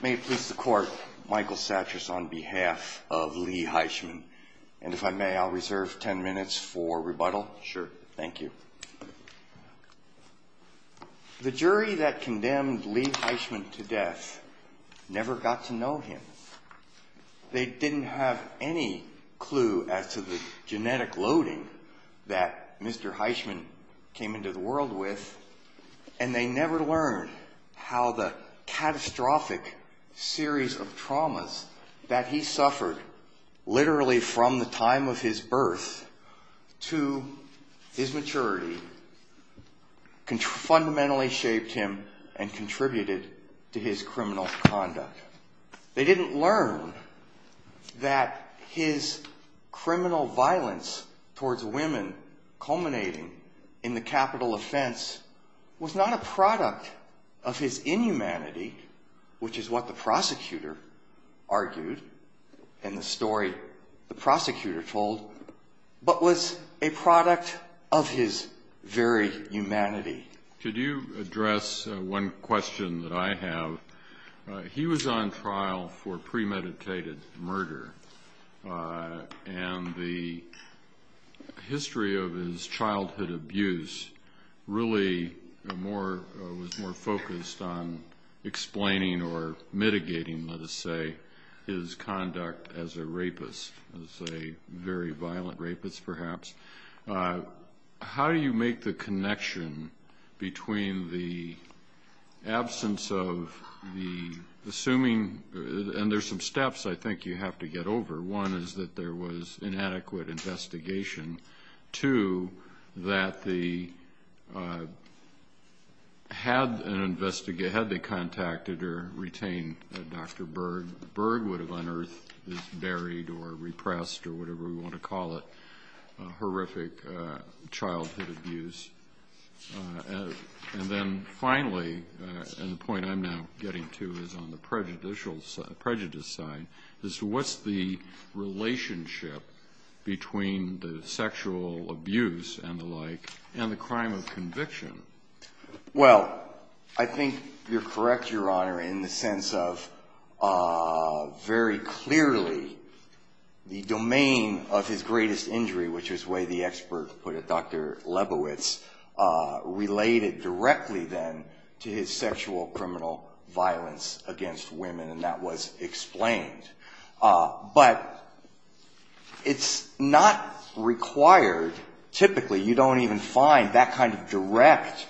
May it please the court, Michael Satchers on behalf of Lee Heisman. And if I may, I'll reserve ten minutes for rebuttal. Sure. Thank you. The jury that condemned Lee Heisman to death never got to know him. They didn't have any clue as to the catastrophic series of traumas that he suffered literally from the time of his birth to his maturity fundamentally shaped him and contributed to his criminal conduct. They didn't learn that his criminal violence towards women culminating in the capital offense was not a product of his inhumanity, which is what the prosecutor argued in the story the prosecutor told, but was a product of his very humanity. Could you address one question that I have? He was on trial for premeditated murder and the history of his childhood abuse really was more focused on How do you make the connection between the absence of the assuming, and there's some steps I think you have to get over. One is that there was inadequate investigation. Two, that had they contacted or retained Dr. Berg, Berg would have unearthed this buried or repressed or whatever we want to call it horrific childhood abuse. And then finally, and the point I'm now getting to is on the prejudice side, is what's the relationship between the sexual abuse and the like and the crime of conviction? Well, I think you're correct, Your Honor, in the sense of very clearly the domain of his greatest injury, which is the way the expert put it, Dr. Lebowitz, related directly then to his sexual criminal violence against women and that was explained. But it's not required, typically, you don't even find that kind of direct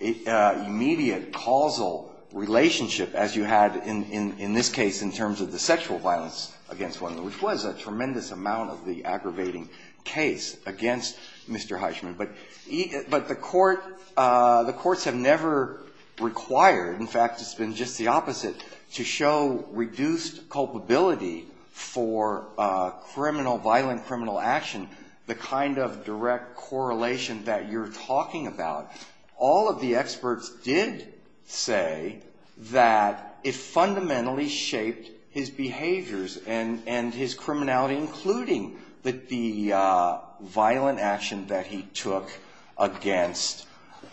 immediate causal relationship as you had in this case in terms of the sexual violence against women, which was a tremendous amount of the aggravating case against Mr. Heishman. But the courts have never required, in fact, it's been just the opposite, to show reduced culpability for violent criminal action, the kind of direct correlation that you're talking about. All of the experts did say that it fundamentally shaped his behaviors and his criminality, including the violent action that he took. against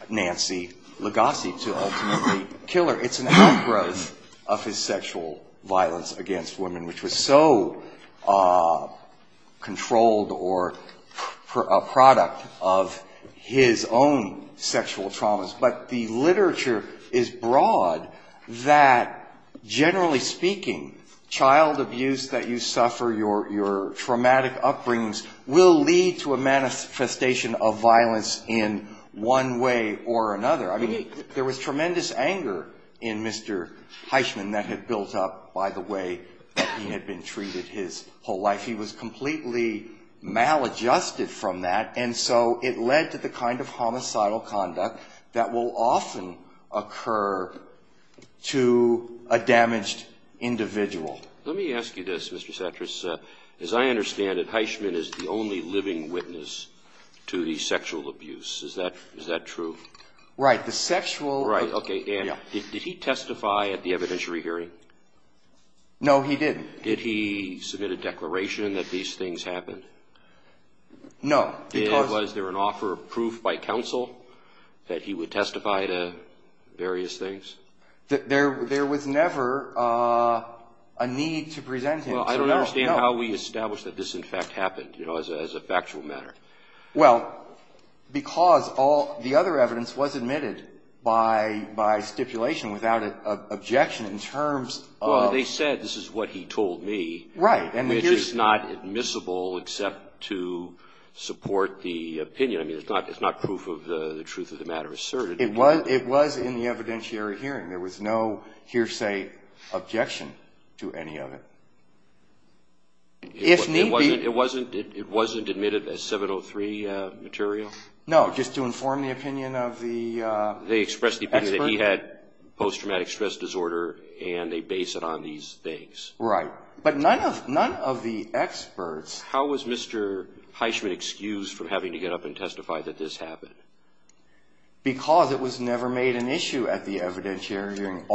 Nancy Legassi to ultimately kill her. It's an outgrowth of his sexual violence against women, which was so controlled or a product of his own sexual traumas. But the literature is broad that, generally speaking, child abuse that you suffer, your traumatic upbringings, will lead to a manifestation of violence against women. And that's not a case where you can't have violence in one way or another. I mean, there was tremendous anger in Mr. Heishman that had built up by the way that he had been treated his whole life. He was completely maladjusted from that. And so it led to the kind of homicidal conduct that will often occur to a damaged individual. Let me ask you this, Mr. Cetras. As I understand it, Heishman is the only living witness to the sexual abuse. Is that true? Right. The sexual... Right. Okay. And did he testify at the evidentiary hearing? No, he didn't. Did he submit a declaration that these things happened? No, because... Was there an offer of proof by counsel that he would testify to various things? There was never a need to present him to know. Well, I don't understand how we establish that this, in fact, happened, you know, as a factual matter. Well, because all the other evidence was admitted by stipulation without an objection in terms of... Well, they said this is what he told me. Right. Which is not admissible except to support the opinion. I mean, it's not proof of the truth of the matter asserted. It was in the evidentiary hearing. There was no hearsay objection to any of it. If need be... It wasn't admitted as 703 material? No, just to inform the opinion of the expert. They expressed the opinion that he had post-traumatic stress disorder, and they base it on these things. Right. But none of the experts... How was Mr. Heishman excused from having to get up and testify that this happened? Because it was never made an issue at the evidentiary hearing.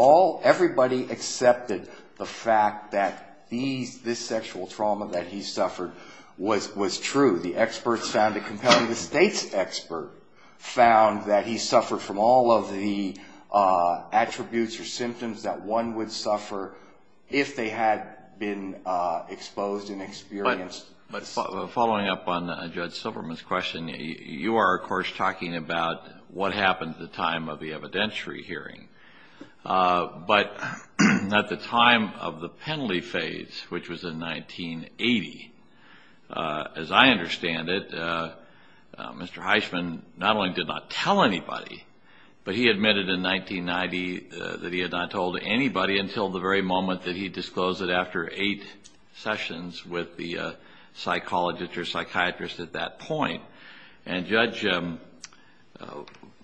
Everybody accepted the fact that this sexual trauma that he suffered was true. The experts found it compelling. The State's expert found that he suffered from all of the attributes or symptoms that one would suffer if they had been exposed and experienced... Following up on Judge Silverman's question, you are, of course, talking about what happened at the time of the evidentiary hearing. But at the time of the penalty phase, which was in 1980, as I understand it, Mr. Heishman not only did not tell anybody, but he admitted in 1990 that he had not told anybody until the very moment that he disclosed it after eight sessions with the psychologist or psychiatrist at that point. And Judge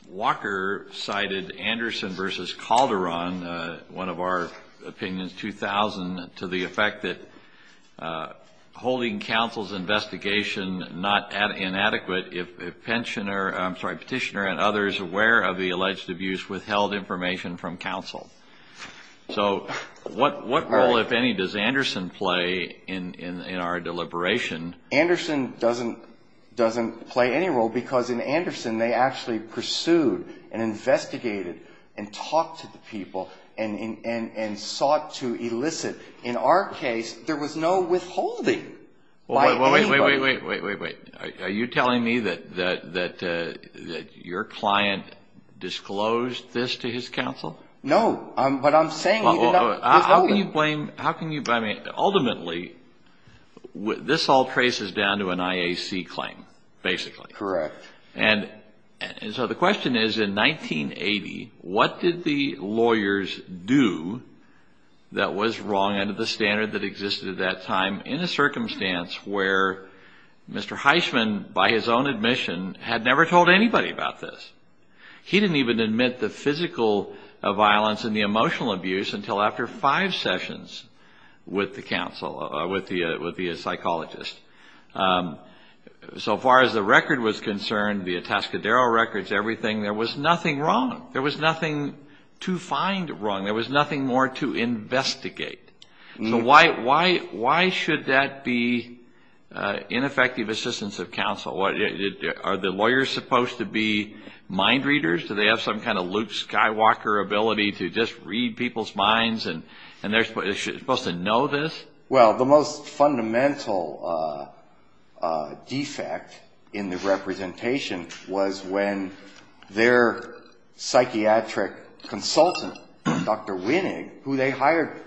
Walker cited Anderson v. Calderon, one of our opinions, 2000, to the effect that holding counsel's investigation inadequate if petitioner and others aware of the alleged abuse withheld information from counsel. So what role, if any, does Anderson play in our deliberation? Anderson doesn't play any role because in Anderson they actually pursued and investigated and talked to the people and sought to elicit. In our case, there was no withholding by anybody. Wait, wait, wait, wait, wait, wait. Are you telling me that your client disclosed this to his counsel? No, but I'm saying he did not withhold it. Ultimately, this all traces down to an IAC claim, basically. Correct. And so the question is, in 1980, what did the lawyers do that was wrong under the standard that existed at that time in a circumstance where Mr. Heisman, by his own admission, had never told anybody about this? He didn't even admit the physical violence and the emotional abuse until after five sessions with the psychologist. So far as the record was concerned, the Atascadero records, everything, there was nothing wrong. There was nothing to find wrong. There was nothing more to investigate. So why should that be ineffective assistance of counsel? Are the lawyers supposed to be mind readers? Do they have some kind of Luke Skywalker ability to just read people's minds and they're supposed to know this? Well, the most fundamental defect in the representation was when their psychiatric consultant, Dr. Winnig, who they hired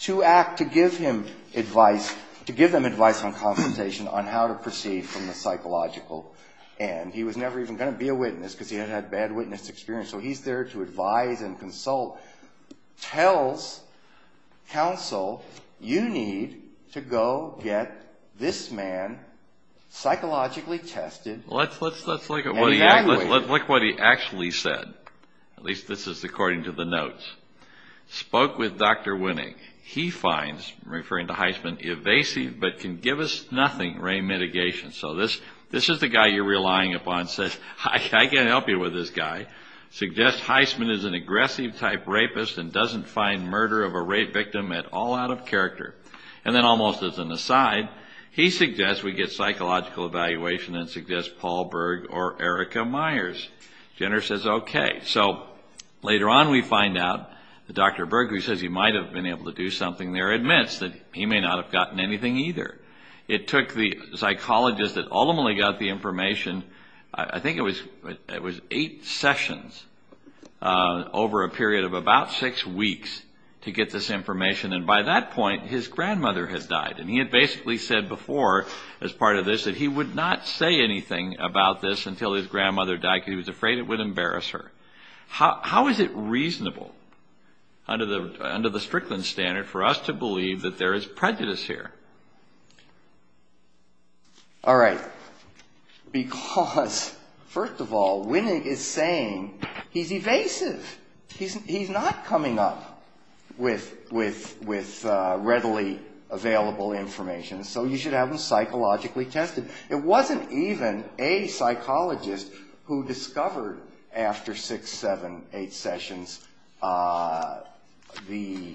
to act to give him advice, to give them advice on consultation on how to proceed from the psychological end. He was never even going to be a witness because he had had bad witness experience. So he's there to advise and consult. Tells counsel, you need to go get this man psychologically tested and evaluated. Let's look at what he actually said. At least this is according to the notes. Spoke with Dr. Winnig. He finds, referring to Heisman, evasive but can give us nothing rein mitigation. So this is the guy you're relying upon, says, I can't help you with this guy. Suggests Heisman is an aggressive type rapist and doesn't find murder of a rape victim at all out of character. And then almost as an aside, he suggests we get psychological evaluation and suggests Paul Berg or Erica Myers. Jenner says okay. So later on we find out that Dr. Berg, who says he might have been able to do something there, admits that he may not have gotten anything either. It took the psychologist that ultimately got the information, I think it was eight sessions, over a period of about six weeks to get this information. And by that point his grandmother had died. And he had basically said before as part of this that he would not say anything about this until his grandmother died because he was afraid it would embarrass her. How is it reasonable under the Strickland standard for us to believe that there is prejudice here? All right. Because, first of all, Winig is saying he's evasive. He's not coming up with readily available information. So you should have him psychologically tested. It wasn't even a psychologist who discovered after six, seven, eight sessions the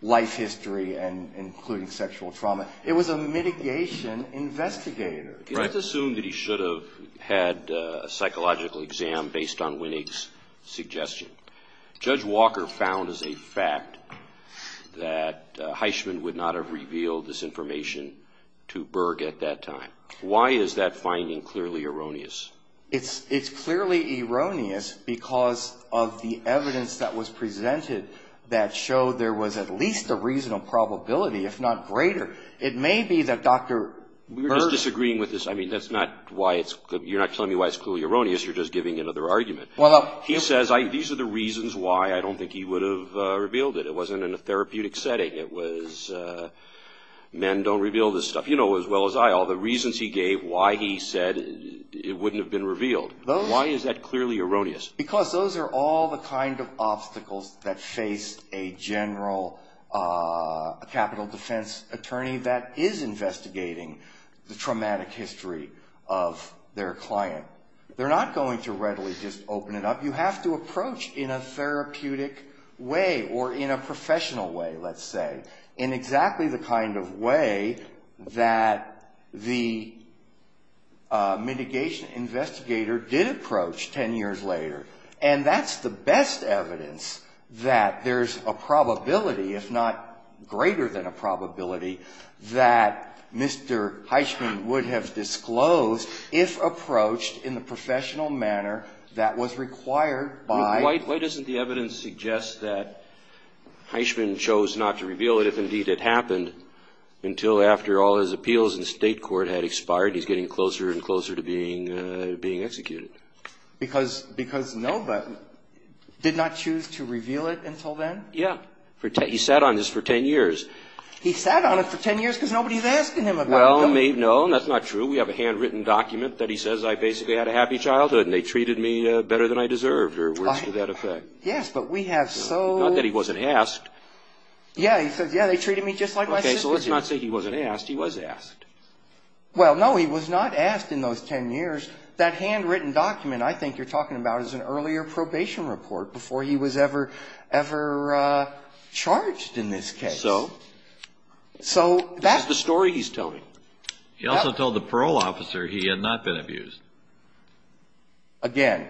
life history, including sexual trauma. It was a mitigation investigator. Let's assume that he should have had a psychological exam based on Winig's suggestion. Judge Walker found as a fact that Heishman would not have revealed this information to Berg at that time. Why is that finding clearly erroneous? It's clearly erroneous because of the evidence that was presented that showed there was at least a reasonable probability, if not greater. It may be that Dr. Berg – We're just disagreeing with this. I mean, that's not why it's – you're not telling me why it's clearly erroneous. You're just giving another argument. He says these are the reasons why I don't think he would have revealed it. It wasn't in a therapeutic setting. It was men don't reveal this stuff. You know as well as I all the reasons he gave why he said it wouldn't have been revealed. Why is that clearly erroneous? Because those are all the kind of obstacles that faced a general capital defense attorney that is investigating the traumatic history of their client. They're not going to readily just open it up. You have to approach in a therapeutic way or in a professional way, let's say, in exactly the kind of way that the mitigation investigator did approach ten years later. And that's the best evidence that there's a probability, if not greater than a probability, that Mr. Heisman would have disclosed if approached in the professional manner that was required by – Why doesn't the evidence suggest that Heisman chose not to reveal it if indeed it happened until after all his appeals in the State court had expired and he's getting closer and closer to being executed? Because nobody did not choose to reveal it until then? Yeah. He sat on this for ten years. He sat on it for ten years because nobody's asking him about it, though. Well, no, that's not true. We have a handwritten document that he says, I basically had a happy childhood and they treated me better than I deserved, or words to that effect. Yes, but we have so – Not that he wasn't asked. Yeah, he says, yeah, they treated me just like my sister did. Okay, so let's not say he wasn't asked. He was asked. Well, no, he was not asked in those ten years. That handwritten document I think you're talking about is an earlier probation report before he was ever charged in this case. Yes. So that's the story he's telling. He also told the parole officer he had not been abused. Again,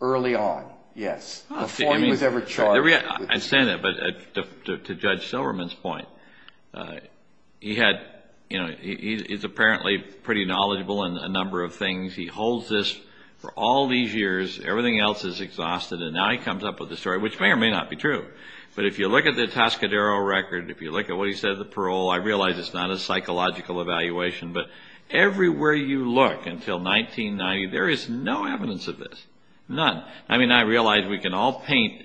early on, yes, before he was ever charged. I understand that, but to Judge Silverman's point, he had, you know, he's apparently pretty knowledgeable in a number of things. He holds this for all these years. Everything else is exhausted and now he comes up with a story, which may or may not be true. But if you look at the Tascadero record, if you look at what he said at the parole, I realize it's not a psychological evaluation, but everywhere you look until 1990, there is no evidence of this, none. I mean, I realize we can all paint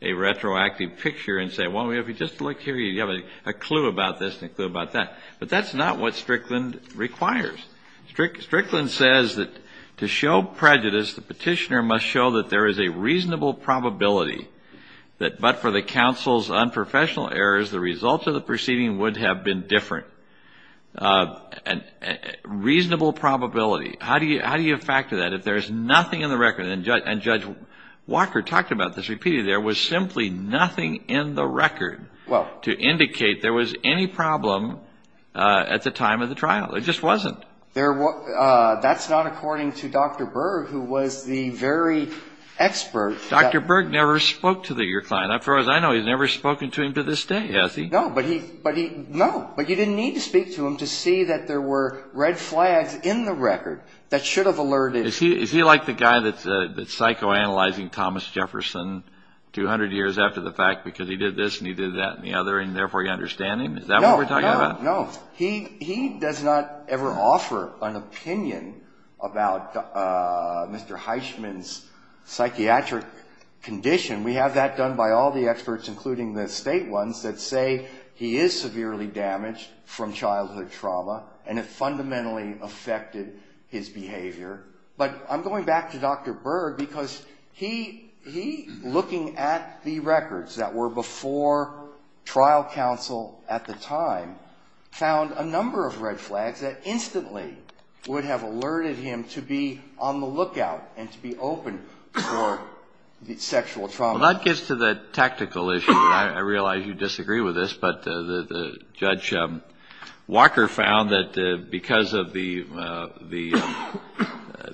a retroactive picture and say, well, if you just look here, you have a clue about this and a clue about that. But that's not what Strickland requires. Strickland says that to show prejudice, the petitioner must show that there is a reasonable probability that but for the counsel's unprofessional errors, the results of the proceeding would have been different. Reasonable probability. How do you factor that if there is nothing in the record? And Judge Walker talked about this repeatedly. There was simply nothing in the record to indicate there was any problem at the time of the trial. There just wasn't. That's not according to Dr. Berg, who was the very expert. Dr. Berg never spoke to your client. As far as I know, he's never spoken to him to this day, has he? No, but you didn't need to speak to him to see that there were red flags in the record that should have alerted. Is he like the guy that's psychoanalyzing Thomas Jefferson 200 years after the fact because he did this and he did that and the other and therefore you understand him? Is that what we're talking about? No. He does not ever offer an opinion about Mr. Heisman's psychiatric condition. We have that done by all the experts, including the state ones, that say he is severely damaged from childhood trauma and it fundamentally affected his behavior. But I'm going back to Dr. Berg because he, looking at the records that were before trial counsel at the time, found a number of red flags that instantly would have alerted him to be on the lookout and to be open for sexual trauma. Well, that gets to the tactical issue. I realize you disagree with this, but Judge Walker found that because of the,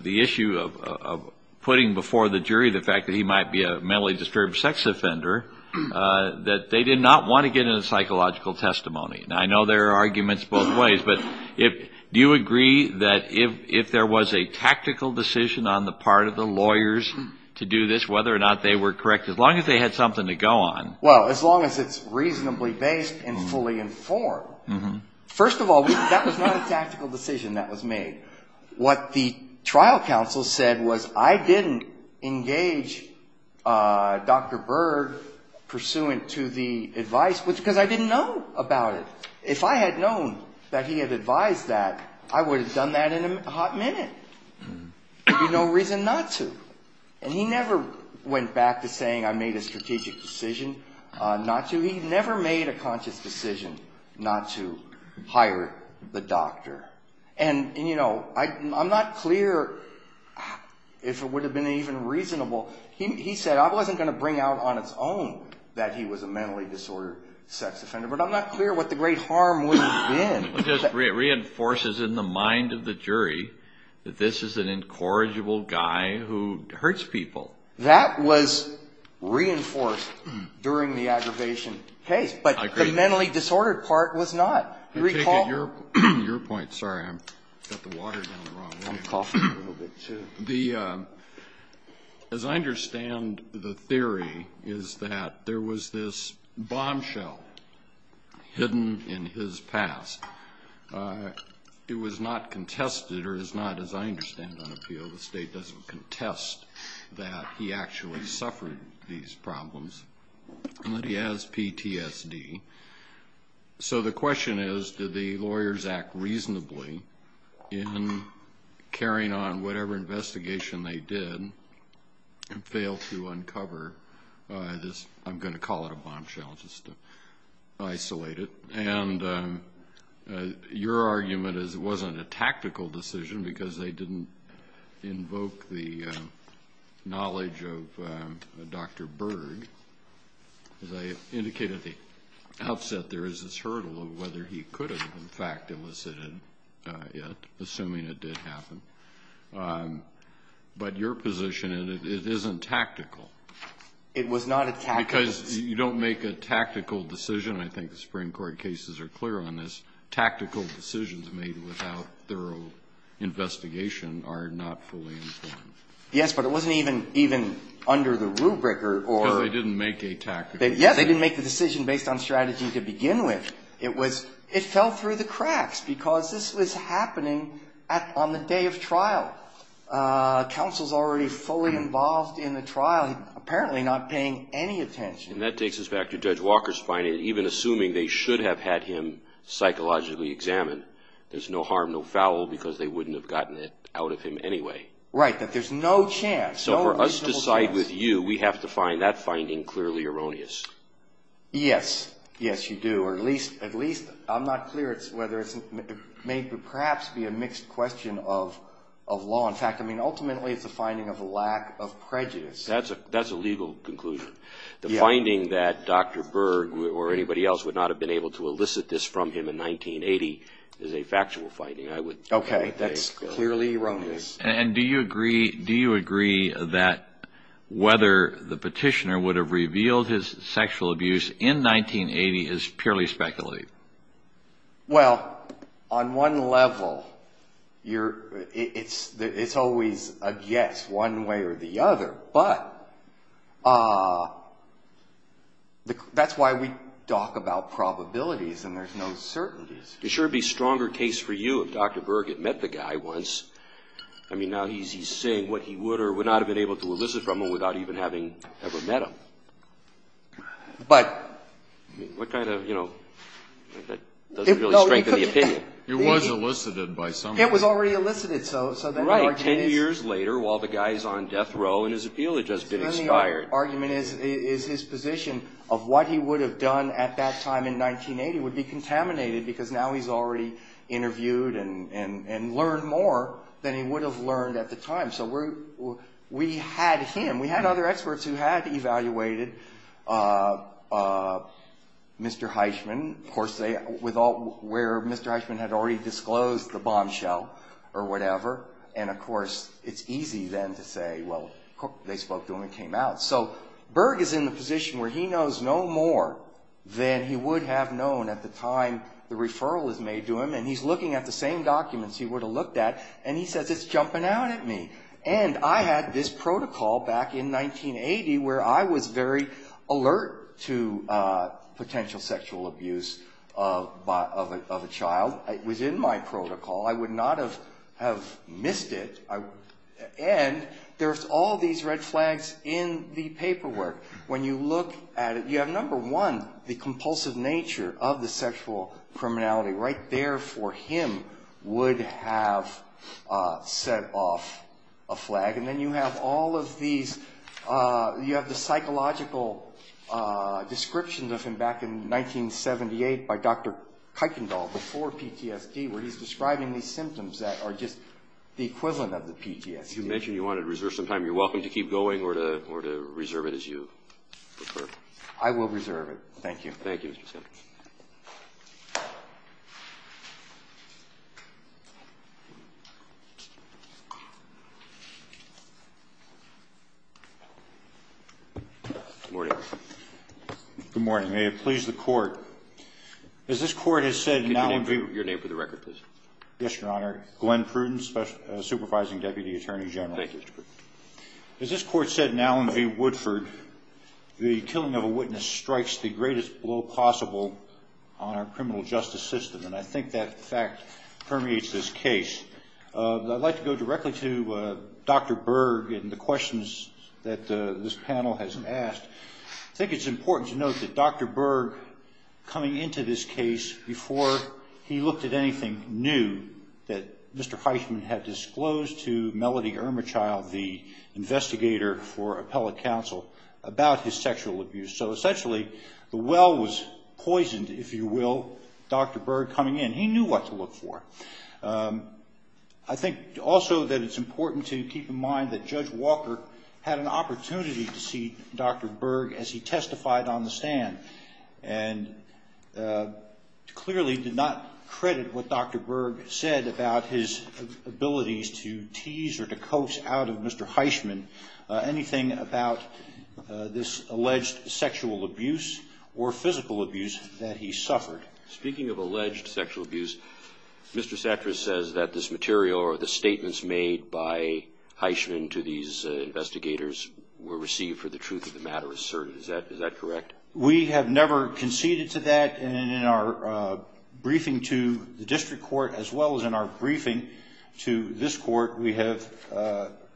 the issue of putting before the jury the fact that he might be a mentally disturbed sex offender, that they did not want to get a psychological testimony. And I know there are arguments both ways, but do you agree that if there was a tactical decision on the part of the lawyers to do this, whether or not they were correct, as long as they had something to go on. Well, as long as it's reasonably based and fully informed. First of all, that was not a tactical decision that was made. What the trial counsel said was I didn't engage Dr. Berg pursuant to the advice, because I didn't know about it. If I had known that he had advised that, I would have done that in a hot minute. There would be no reason not to. And he never went back to saying I made a strategic decision not to. He never made a conscious decision not to hire the doctor. And, you know, I'm not clear if it would have been even reasonable. He said I wasn't going to bring out on its own that he was a mentally disordered sex offender, but I'm not clear what the great harm would have been. It just reinforces in the mind of the jury that this is an incorrigible guy who hurts people. That was reinforced during the aggravation case. But the mentally disordered part was not. Do you recall? Your point. Sorry. I've got the water down the wrong way. I'm coughing a little bit, too. The as I understand the theory is that there was this bombshell hidden in his past. It was not contested or is not, as I understand on appeal, the state doesn't contest that he actually suffered these problems and that he has PTSD. So the question is did the lawyers act reasonably in carrying on whatever investigation they did and fail to uncover this, I'm going to call it a bombshell, just to isolate it. And your argument is it wasn't a tactical decision because they didn't invoke the knowledge of Dr. Berg. As I indicated at the outset, there is this hurdle of whether he could have, in fact, elicited it, assuming it did happen. But your position is it isn't tactical. It was not a tactical decision. Because you don't make a tactical decision. I think the Supreme Court cases are clear on this. Tactical decisions made without thorough investigation are not fully informed. Yes, but it wasn't even under the rubric or or. Because they didn't make a tactical decision. Yes, they didn't make the decision based on strategy to begin with. It was, it fell through the cracks because this was happening on the day of trial. Counsel's already fully involved in the trial, apparently not paying any attention. And that takes us back to Judge Walker's finding that even assuming they should have had him psychologically examined, there's no harm, no foul, because they wouldn't have gotten it out of him anyway. Right, that there's no chance, no reasonable chance. So for us to side with you, we have to find that finding clearly erroneous. Yes, yes, you do. Or at least, I'm not clear whether it may perhaps be a mixed question of law. In fact, I mean, ultimately it's a finding of a lack of prejudice. That's a legal conclusion. The finding that Dr. Berg or anybody else would not have been able to elicit this from him in 1980 is a factual finding. Okay, that's clearly erroneous. And do you agree, do you agree that whether the petitioner would have revealed his sexual abuse in 1980 is purely speculative? Well, on one level, it's always a yes one way or the other. But that's why we talk about probabilities and there's no certainties. It sure would be a stronger case for you if Dr. Berg had met the guy once. I mean, now he's saying what he would or would not have been able to elicit from him without even having ever met him. But. I mean, what kind of, you know, that doesn't really strengthen the opinion. It was elicited by somebody. It was already elicited. Right, 10 years later while the guy's on death row and his appeal had just been expired. The argument is his position of what he would have done at that time in 1980 would be contaminated because now he's already interviewed and learned more than he would have learned at the time. So we had him, we had other experts who had evaluated Mr. Heisman. Of course, where Mr. Heisman had already disclosed the bombshell or whatever. And, of course, it's easy then to say, well, they spoke to him and came out. So Berg is in the position where he knows no more than he would have known at the time the referral was made to him. And he's looking at the same documents he would have looked at and he says, it's jumping out at me. And I had this protocol back in 1980 where I was very alert to potential sexual abuse of a child. It was in my protocol. I would not have missed it. And there's all these red flags in the paperwork. When you look at it, you have number one, the compulsive nature of the sexual criminality right there for him would have set off a flag. And then you have all of these, you have the psychological descriptions of him back in 1978 by Dr. Kuykendall before PTSD, where he's describing these symptoms that are just the equivalent of the PTSD. You mentioned you wanted to reserve some time. You're welcome to keep going or to reserve it as you prefer. I will reserve it. Thank you. Thank you, Mr. Simmons. Good morning. Good morning. May it please the Court. As this Court has said in Allen v. Your name for the record, please. Yes, Your Honor. Glenn Pruden, Supervising Deputy Attorney General. Thank you, Mr. Pruden. As this Court said in Allen v. Woodford, the killing of a witness strikes the greatest blow possible on our criminal justice system. And I think that fact permeates this case. I'd like to go directly to Dr. Berg and the questions that this panel has asked. I think it's important to note that Dr. Berg, coming into this case, before he looked at anything, knew that Mr. Heisman had disclosed to Melody Irmerchild, the investigator for appellate counsel, about his sexual abuse. So essentially, the well was poisoned, if you will, Dr. Berg coming in. He knew what to look for. I think also that it's important to keep in mind that Judge Walker had an opportunity to see Dr. Berg as he testified on the stand and clearly did not credit what Dr. Berg said about his abilities to tease or to coax out of Mr. Heisman anything about this alleged sexual abuse or physical abuse that he suffered. Speaking of alleged sexual abuse, Mr. Sattras says that this material or the statements made by Heisman to these investigators were received for the truth of the matter asserted. Is that correct? We have never conceded to that. And in our briefing to the district court, as well as in our briefing to this court, we have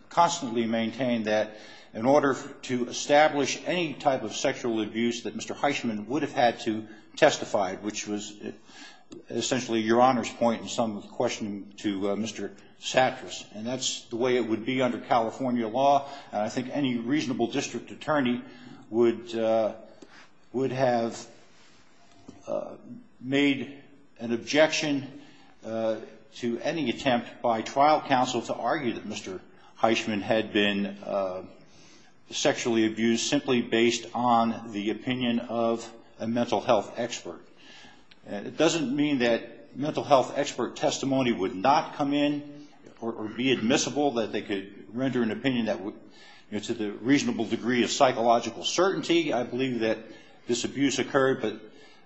constantly maintained that in order to establish any type of sexual abuse that Mr. Heisman would have had to testify, which was essentially Your Honor's point in some of the questioning to Mr. Sattras. And that's the way it would be under California law. And I think any reasonable district attorney would have made an objection to any attempt by trial counsel to argue that Mr. Heisman had been sexually abused simply based on the opinion of a mental health expert. It doesn't mean that mental health expert testimony would not come in or be admissible, that they could render an opinion that would, you know, to the reasonable degree of psychological certainty, I believe that this abuse occurred. But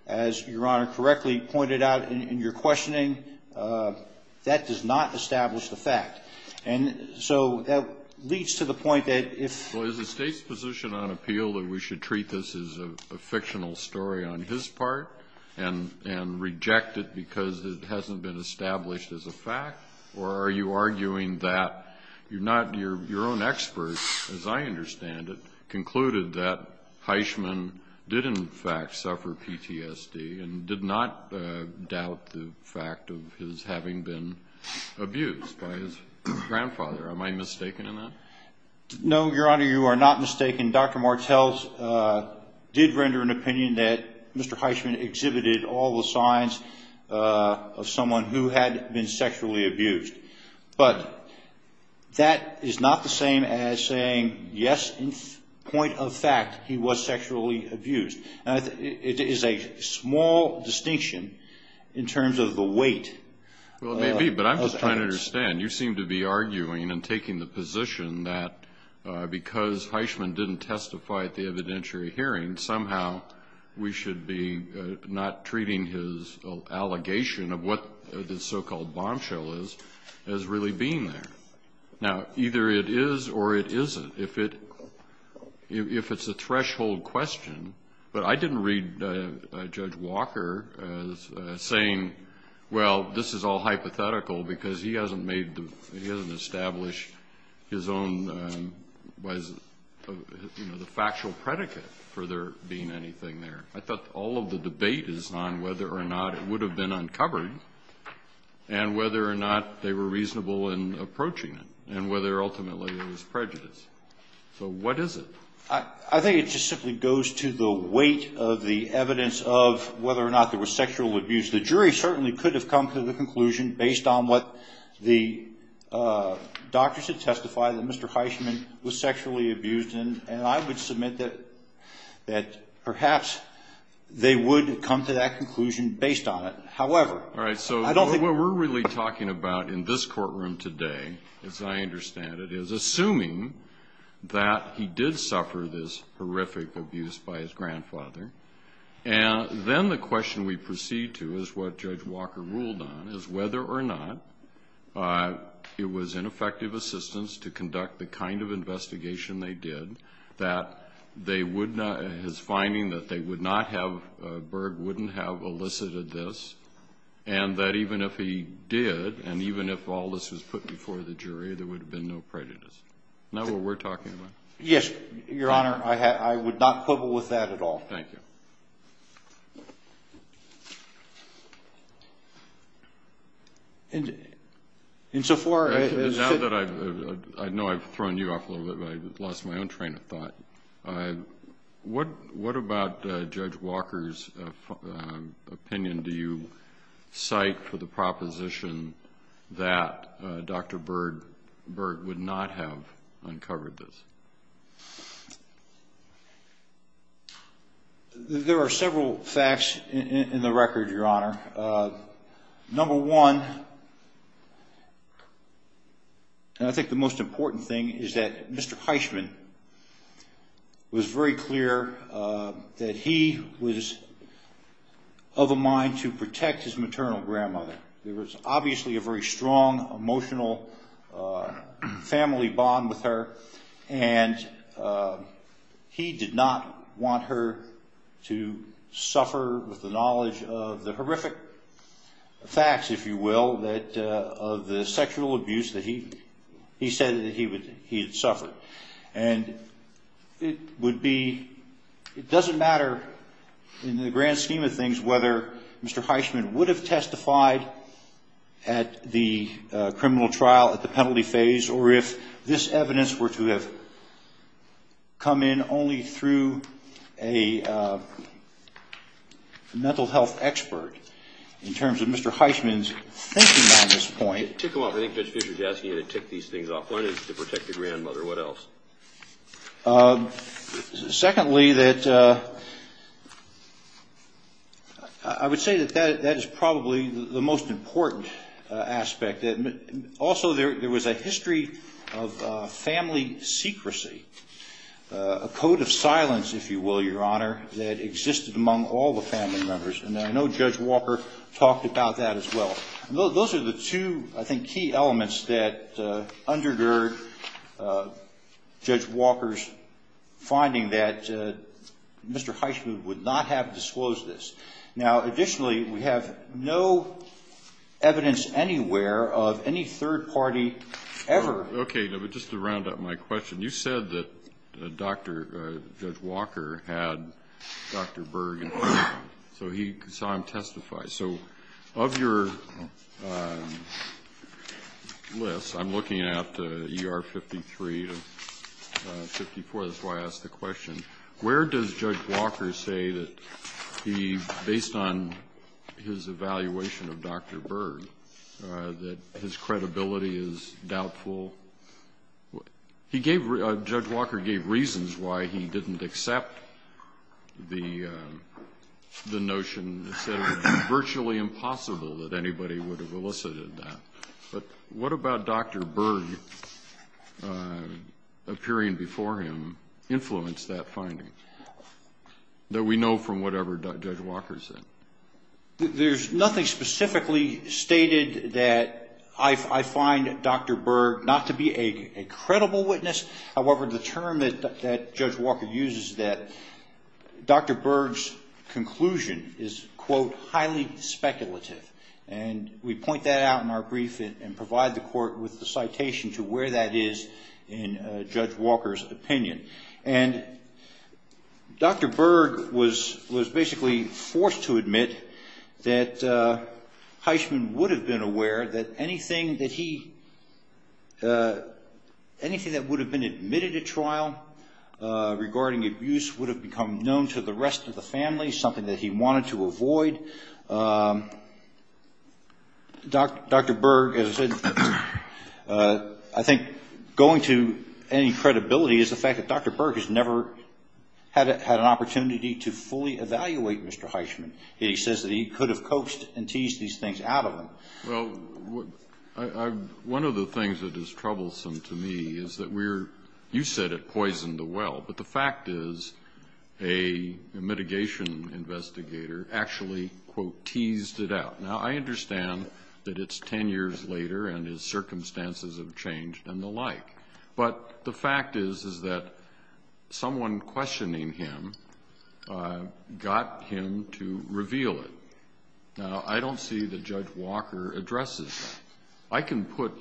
as Your Honor correctly pointed out in your questioning, that does not establish the fact. And so that leads to the point that if the State's position on appeal, that we should treat this as a fictional story on his part and reject it because it hasn't been established as a fact? Or are you arguing that you're not your own experts, as I understand it, concluded that Heisman did in fact suffer PTSD and did not doubt the fact of his having been abused by his grandfather? Am I mistaken in that? No, Your Honor, you are not mistaken. Dr. Martel did render an opinion that Mr. Heisman exhibited all the signs of someone who had been sexually abused. But that is not the same as saying, yes, in point of fact, he was sexually abused. It is a small distinction in terms of the weight. Well, it may be, but I'm just trying to understand. You seem to be arguing and taking the position that because Heisman didn't testify at the evidentiary hearing, somehow we should be not treating his allegation of what this so-called bombshell is as really being there. Now, either it is or it isn't, if it's a threshold question. But I didn't read Judge Walker as saying, well, this is all hypothetical, because he hasn't established his own, you know, the factual predicate for there being anything there. I thought all of the debate is on whether or not it would have been uncovered and whether or not they were reasonable in approaching it and whether ultimately it was prejudice. So what is it? I think it just simply goes to the weight of the evidence of whether or not there was sexual abuse. The jury certainly could have come to the conclusion, based on what the doctors had testified, that Mr. Heisman was sexually abused. And I would submit that perhaps they would have come to that conclusion based on it. However, I don't think we're going to do that. All right. So what we're really talking about in this courtroom today, as I understand it, is assuming that he did suffer this horrific abuse by his grandfather. And then the question we proceed to is what Judge Walker ruled on, is whether or not it was ineffective assistance to conduct the kind of investigation they did, that they would not – his finding that they would not have – Berg wouldn't have elicited this, and that even if he did and even if all this was put before the jury, there would have been no prejudice. Is that what we're talking about? Yes, Your Honor. I would not quibble with that at all. Thank you. Insofar as – Now that I've – I know I've thrown you off a little bit, but I lost my own train of thought. What about Judge Walker's opinion do you cite for the proposition that Dr. Berg would not have uncovered this? There are several facts in the record, Your Honor. Number one, and I think the most important thing, is that Mr. Heisman was very clear that he was of a mind to protect his maternal grandmother. There was obviously a very strong emotional family bond with her, and he did not want her to suffer with the knowledge of the horrific facts, if you will, of the sexual abuse that he said that he had suffered. And it would be – it doesn't matter in the grand scheme of things whether Mr. Heisman would have testified at the criminal trial at the penalty phase or if this evidence were to have come in only through a mental health expert. In terms of Mr. Heisman's thinking on this point – I think Judge Fischer is asking you to tick these things off. One is to protect the grandmother. What else? Secondly, that – I would say that that is probably the most important aspect. Also, there was a history of family secrecy, a code of silence, if you will, Your Honor, that existed among all the family members. And I know Judge Walker talked about that as well. Those are the two, I think, key elements that undergird Judge Walker's finding that Mr. Heisman would not have disclosed this. Now, additionally, we have no evidence anywhere of any third party ever – Okay. But just to round up my question, you said that Dr. – Judge Walker had Dr. Berg in front of him, so he saw him testify. So of your list, I'm looking at ER 53 and 54. That's why I asked the question. Where does Judge Walker say that he, based on his evaluation of Dr. Berg, that his credibility is doubtful? He gave – Judge Walker gave reasons why he didn't accept the notion. He said it would be virtually impossible that anybody would have elicited that. But what about Dr. Berg appearing before him influenced that finding, that we know from whatever Judge Walker said? There's nothing specifically stated that I find Dr. Berg not to be a credible witness. However, the term that Judge Walker uses, that Dr. Berg's conclusion is, quote, and provide the court with the citation to where that is in Judge Walker's opinion. And Dr. Berg was basically forced to admit that Heisman would have been aware that anything that he – anything that would have been admitted at trial regarding abuse would have become known to the rest of the family, something that he wanted to avoid. Dr. Berg, as I said, I think going to any credibility is the fact that Dr. Berg has never had an opportunity to fully evaluate Mr. Heisman. He says that he could have coaxed and teased these things out of him. Well, one of the things that is troublesome to me is that we're – you said it poisoned the well. But the fact is a mitigation investigator actually, quote, teased it out. Now, I understand that it's 10 years later and his circumstances have changed and the like. But the fact is, is that someone questioning him got him to reveal it. Now, I don't see that Judge Walker addresses that. I can put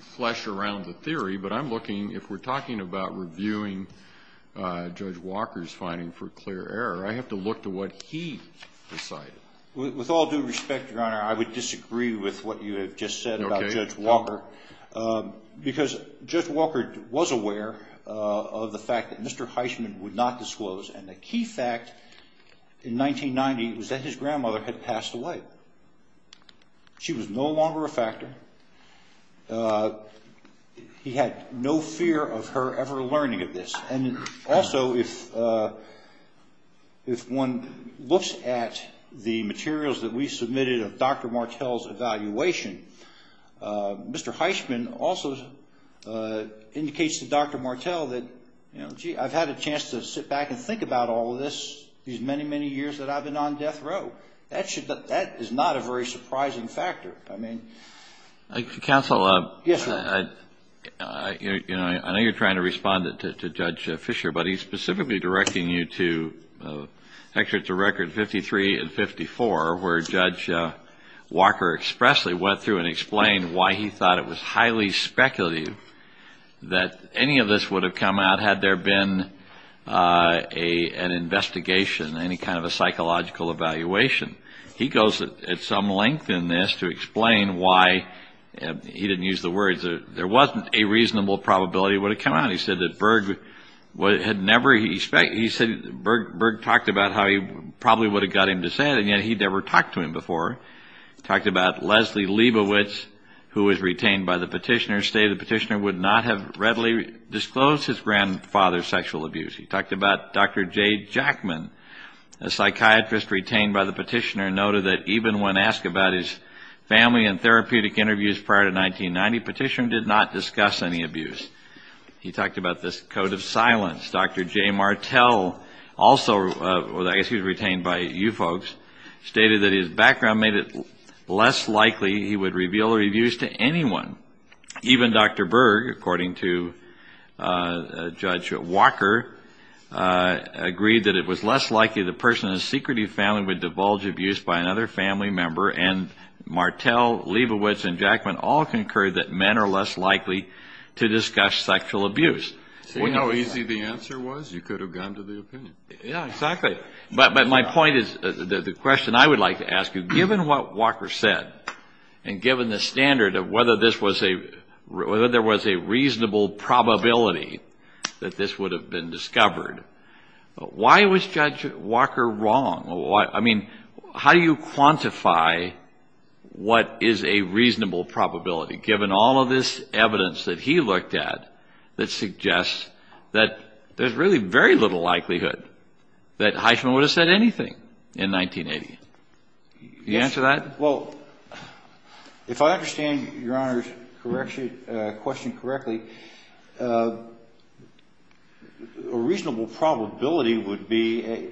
flesh around the theory, but I'm looking – if we're talking about reviewing Judge Walker's finding for clear error, I have to look to what he decided. With all due respect, Your Honor, I would disagree with what you have just said about Judge Walker. Okay. Because Judge Walker was aware of the fact that Mr. Heisman would not disclose. And the key fact in 1990 was that his grandmother had passed away. She was no longer a factor. He had no fear of her ever learning of this. And also, if one looks at the materials that we submitted of Dr. Martel's evaluation, Mr. Heisman also indicates to Dr. Martel that, you know, gee, I've had a chance to sit back and think about all of this, these many, many years that I've been on death row. That should – that is not a very surprising factor. I mean – Counsel. Yes, sir. You know, I know you're trying to respond to Judge Fisher, but he's specifically directing you to – actually, it's a record 53 and 54, where Judge Walker expressly went through and explained why he thought it was highly speculative that any of this would have come out had there been an investigation, any kind of a psychological evaluation. He goes at some length in this to explain why – he didn't use the words. There wasn't a reasonable probability it would have come out. He said that Berg had never – he said Berg talked about how he probably would have got him to say it, and yet he'd never talked to him before. He talked about Leslie Leibovitz, who was retained by the petitioner, and stated the petitioner would not have readily disclosed his grandfather's sexual abuse. He talked about Dr. J. Jackman, a psychiatrist retained by the petitioner, and noted that even when asked about his family and therapeutic interviews prior to 1990, the petitioner did not discuss any abuse. He talked about this code of silence. Dr. J. Martell, also – I guess he was retained by you folks – he would reveal the abuse to anyone. Even Dr. Berg, according to Judge Walker, agreed that it was less likely the person in a secretive family would divulge abuse by another family member, and Martell, Leibovitz, and Jackman all concurred that men are less likely to discuss sexual abuse. See how easy the answer was? You could have gone to the opinion. Yeah, exactly. But my point is – the question I would like to ask you, given what Walker said, and given the standard of whether this was a – whether there was a reasonable probability that this would have been discovered, why was Judge Walker wrong? I mean, how do you quantify what is a reasonable probability, given all of this evidence that he looked at that suggests that there's really very little likelihood that Heisman would have said anything in 1980? Can you answer that? Well, if I understand Your Honor's question correctly, a reasonable probability would be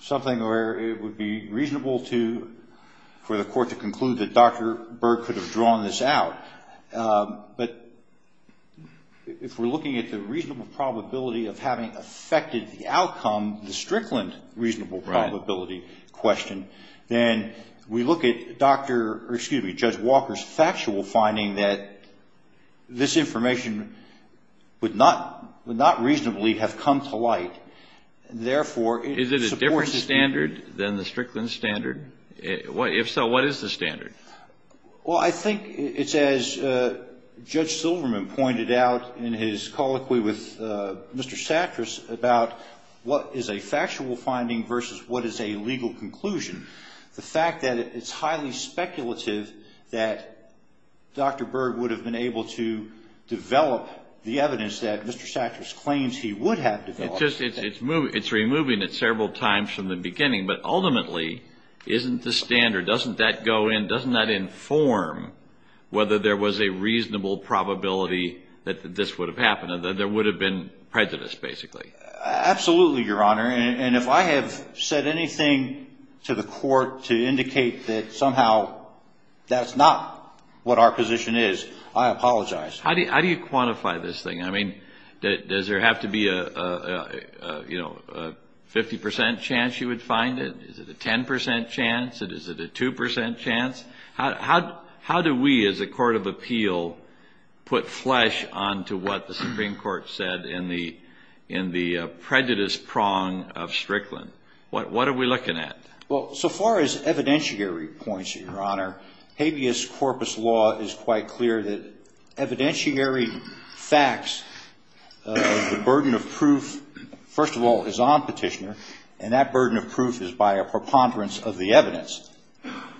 something where it would be reasonable to – for the Court to conclude that Dr. Berg could have drawn this out. But if we're looking at the reasonable probability of having affected the outcome, the Strickland reasonable probability question, then we look at Dr. – or excuse me, Judge Walker's factual finding that this information would not reasonably have come to light. Therefore, it supports – Is it a different standard than the Strickland standard? If so, what is the standard? Well, I think it's as Judge Silverman pointed out in his colloquy with Mr. Sattras about what is a factual finding versus what is a legal conclusion. The fact that it's highly speculative that Dr. Berg would have been able to develop the evidence that Mr. Sattras claims he would have developed. It's removing it several times from the beginning, but ultimately isn't the standard. Doesn't that go in? Doesn't that inform whether there was a reasonable probability that this would have happened, that there would have been prejudice, basically? Absolutely, Your Honor. And if I have said anything to the Court to indicate that somehow that's not what our position is, I apologize. How do you quantify this thing? I mean, does there have to be a 50 percent chance you would find it? Is it a 10 percent chance? Is it a 2 percent chance? How do we as a court of appeal put flesh onto what the Supreme Court said in the prejudice prong of Strickland? What are we looking at? Well, so far as evidentiary points, Your Honor, habeas corpus law is quite clear that evidentiary facts, the burden of proof, first of all, is on Petitioner, and that burden of proof is by a preponderance of the evidence.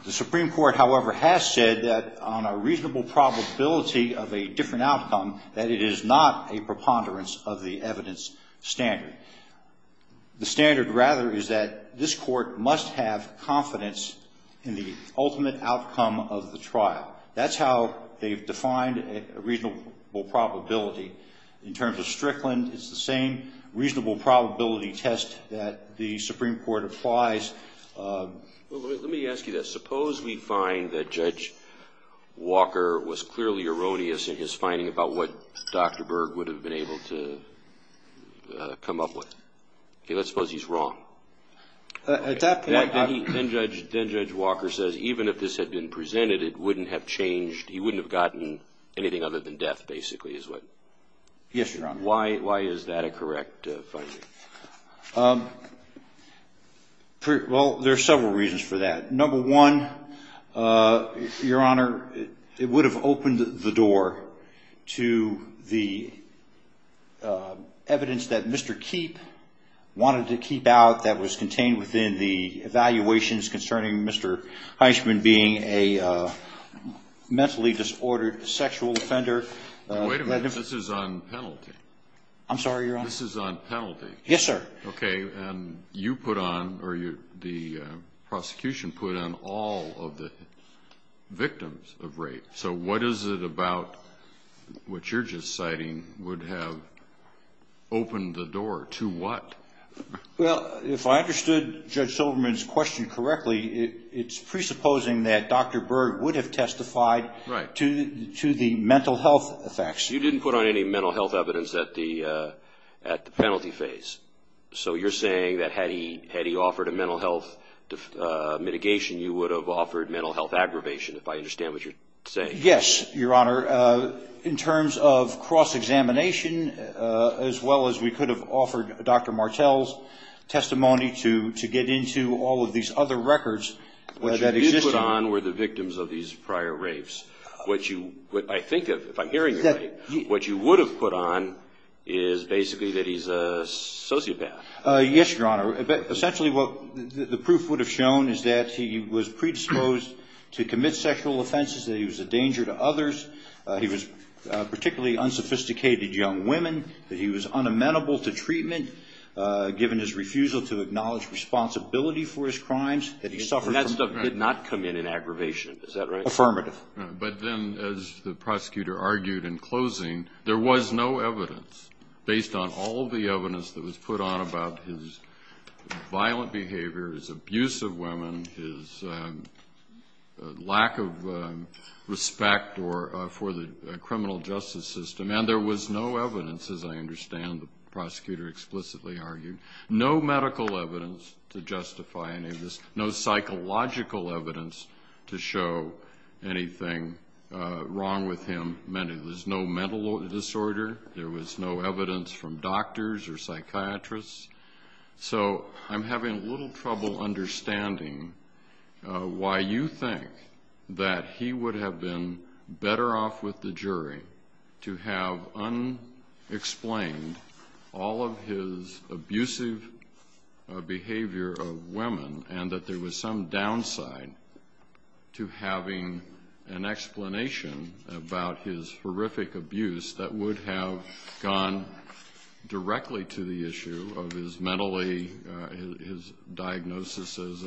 The Supreme Court, however, has said that on a reasonable probability of a different outcome, that it is not a preponderance of the evidence standard. The standard, rather, is that this court must have confidence in the ultimate outcome of the trial. That's how they've defined a reasonable probability. In terms of Strickland, it's the same reasonable probability test that the Supreme Court applies. Well, let me ask you this. Suppose we find that Judge Walker was clearly erroneous in his finding about what Dr. Berg would have been able to come up with. Okay, let's suppose he's wrong. Then Judge Walker says even if this had been presented, it wouldn't have changed, he wouldn't have gotten anything other than death, basically, is what? Yes, Your Honor. Why is that a correct finding? Well, there are several reasons for that. Number one, Your Honor, it would have opened the door to the evidence that Mr. Keep wanted to keep out that was contained within the evaluations concerning Mr. Heisman being a mentally disordered sexual offender. Wait a minute, this is on penalty. I'm sorry, Your Honor? This is on penalty. Yes, sir. Okay, and you put on or the prosecution put on all of the victims of rape. So what is it about what you're just citing would have opened the door to what? Well, if I understood Judge Silverman's question correctly, it's presupposing that Dr. Berg would have testified to the mental health effects. You didn't put on any mental health evidence at the penalty phase. So you're saying that had he offered a mental health mitigation, you would have offered mental health aggravation, if I understand what you're saying. Yes, Your Honor. In terms of cross-examination, as well as we could have offered Dr. Martel's testimony to get into all of these other records. What you did put on were the victims of these prior rapes. If I'm hearing you right, what you would have put on is basically that he's a sociopath. Yes, Your Honor. Essentially what the proof would have shown is that he was predisposed to commit sexual offenses, that he was a danger to others, he was particularly unsophisticated young women, that he was unamenable to treatment, given his refusal to acknowledge responsibility for his crimes. And that stuff did not come in in aggravation, is that right? Affirmative. But then, as the prosecutor argued in closing, there was no evidence based on all of the evidence that was put on about his violent behavior, his abuse of women, his lack of respect for the criminal justice system. And there was no evidence, as I understand the prosecutor explicitly argued, no medical evidence to justify any of this, no psychological evidence to show anything wrong with him. There was no mental disorder. There was no evidence from doctors or psychiatrists. So I'm having a little trouble understanding why you think that he would have been better off with the jury to have unexplained all of his abusive behavior of women and that there was some downside to having an explanation about his horrific abuse that would have gone directly to the issue of his mentally, his diagnosis as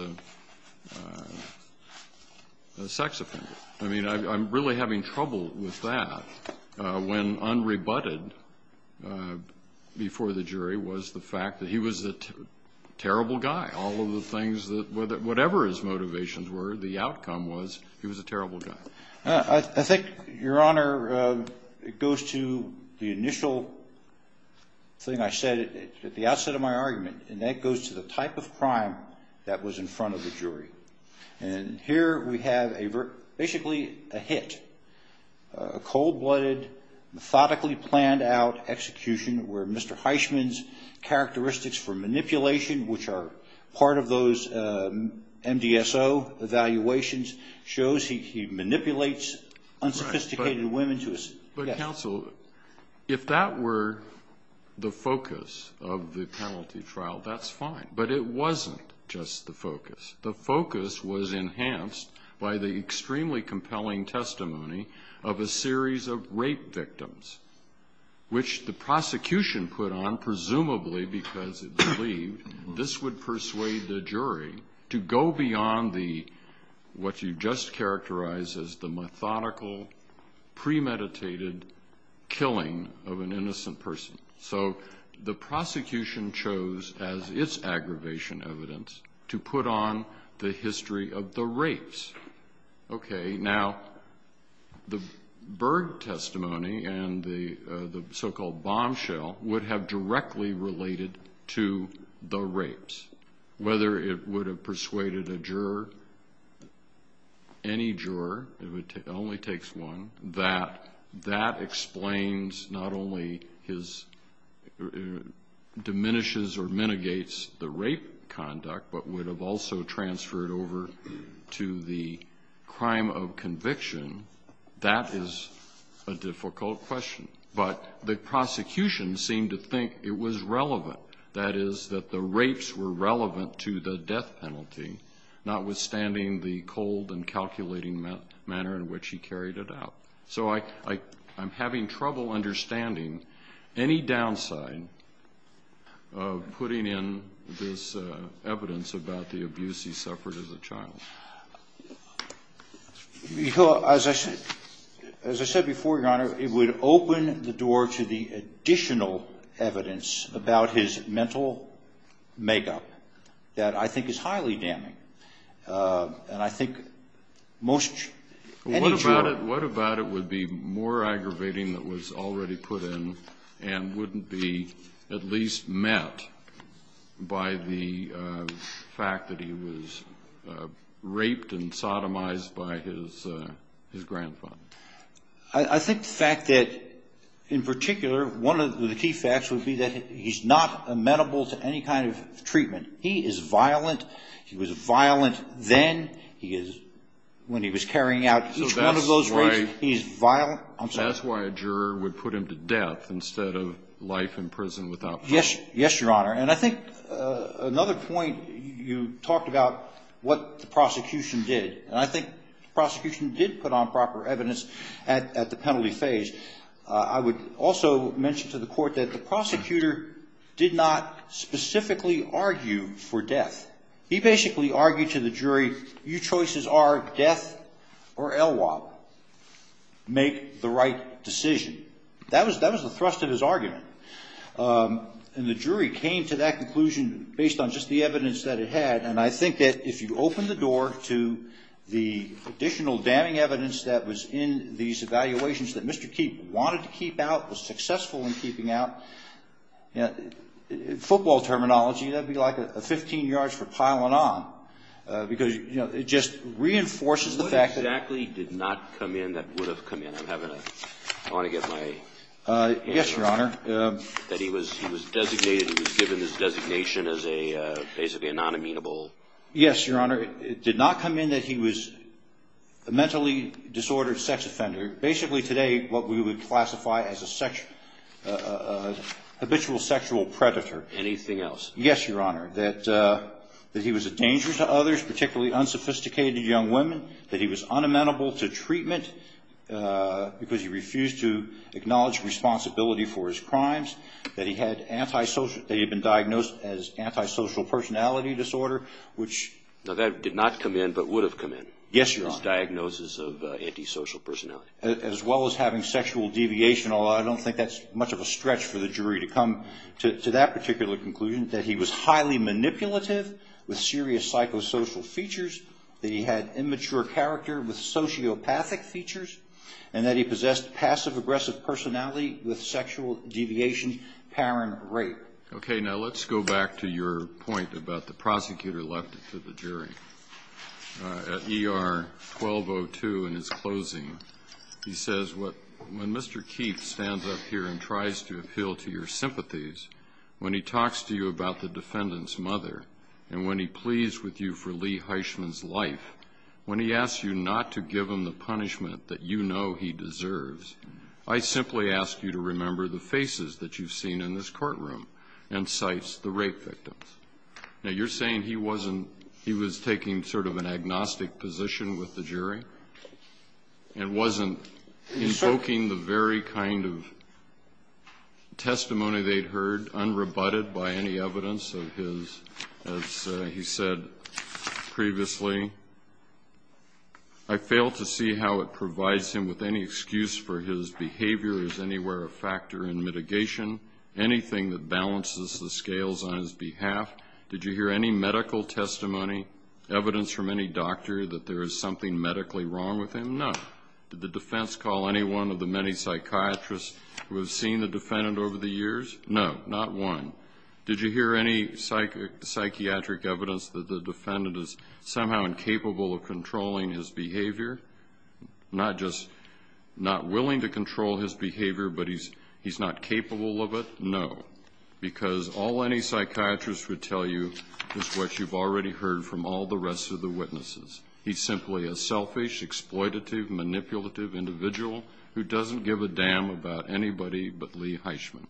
a sex offender. I mean, I'm really having trouble with that. When unrebutted before the jury was the fact that he was a terrible guy, all of the things that whatever his motivations were, the outcome was he was a terrible guy. I think, Your Honor, it goes to the initial thing I said at the outset of my argument, and that goes to the type of crime that was in front of the jury. And here we have basically a hit, a cold-blooded, methodically planned out execution where Mr. Heisman's characteristics for manipulation, which are part of those MDSO evaluations, shows he manipulates unsophisticated women to assist. But counsel, if that were the focus of the penalty trial, that's fine. But it wasn't just the focus. The focus was enhanced by the extremely compelling testimony of a series of rape victims, which the prosecution put on, presumably because it believed this would persuade the jury to go beyond what you just characterized as the methodical, premeditated killing of an innocent person. So the prosecution chose, as its aggravation evidence, to put on the history of the rapes. Okay. Now, the Berg testimony and the so-called bombshell would have directly related to the rapes. Whether it would have persuaded a juror, any juror, it only takes one, that that explains not only his diminishes or mitigates the rape conduct, but would have also transferred over to the crime of conviction. That is a difficult question. But the prosecution seemed to think it was relevant, that is that the rapes were relevant to the death penalty, notwithstanding the cold and calculating manner in which he carried it out. So I'm having trouble understanding any downside of putting in this evidence about the abuse he suffered as a child. As I said before, Your Honor, it would open the door to the additional evidence about his mental makeup that I think is highly damning. And I think most, any juror- What about it would be more aggravating that was already put in and wouldn't be at least met by the fact that he was raped and sodomized by his grandfather? I think the fact that, in particular, one of the key facts would be that he's not amenable to any kind of treatment. He is violent. He was violent then. He is, when he was carrying out each one of those rapes- So that's why- He's violent. I'm sorry. That's why a juror would put him to death instead of life in prison without- Yes. Yes, Your Honor. And I think another point, you talked about what the prosecution did. And I think the prosecution did put on proper evidence at the penalty phase. I would also mention to the court that the prosecutor did not specifically argue for death. He basically argued to the jury, your choices are death or LWOP. Make the right decision. That was the thrust of his argument. And the jury came to that conclusion based on just the evidence that it had. And I think that if you open the door to the additional damning evidence that was in these evaluations that Mr. Keep wanted to keep out, was successful in keeping out, football terminology, that would be like a 15 yards for piling on. Because it just reinforces the fact that- What exactly did not come in that would have come in? I'm having a- I want to get my- Yes, Your Honor. That he was designated, he was given this designation as basically a non-amenable- Yes, Your Honor. It did not come in that he was a mentally disordered sex offender. Basically, today, what we would classify as a habitual sexual predator. Anything else? Yes, Your Honor. That he was a danger to others, particularly unsophisticated young women. That he was unamenable to treatment because he refused to acknowledge responsibility for his crimes. That he had antisocial- that he had been diagnosed as antisocial personality disorder, which- Now, that did not come in but would have come in. Yes, Your Honor. His diagnosis of antisocial personality. As well as having sexual deviation, although I don't think that's much of a stretch for the jury to come to that particular conclusion. That he was highly manipulative with serious psychosocial features. That he had immature character with sociopathic features. And that he possessed passive-aggressive personality with sexual deviation, power, and rape. Okay, now let's go back to your point about the prosecutor left to the jury. At ER 1202 in his closing, he says, When Mr. Keefe stands up here and tries to appeal to your sympathies, when he talks to you about the defendant's mother, and when he pleads with you for Lee Heisman's life, when he asks you not to give him the punishment that you know he deserves, I simply ask you to remember the faces that you've seen in this courtroom and cites the rape victims. Now, you're saying he wasn't- he was taking sort of an agnostic position with the jury? And wasn't invoking the very kind of testimony they'd heard, unrebutted by any evidence of his, as he said previously? I fail to see how it provides him with any excuse for his behavior. Is anywhere a factor in mitigation? Anything that balances the scales on his behalf? Did you hear any medical testimony, evidence from any doctor that there is something medically wrong with him? No. Did the defense call any one of the many psychiatrists who have seen the defendant over the years? No, not one. Did you hear any psychiatric evidence that the defendant is somehow incapable of controlling his behavior? Not just not willing to control his behavior, but he's not capable of it? No, because all any psychiatrist would tell you is what you've already heard from all the rest of the witnesses. He's simply a selfish, exploitative, manipulative individual who doesn't give a damn about anybody but Lee Heisman.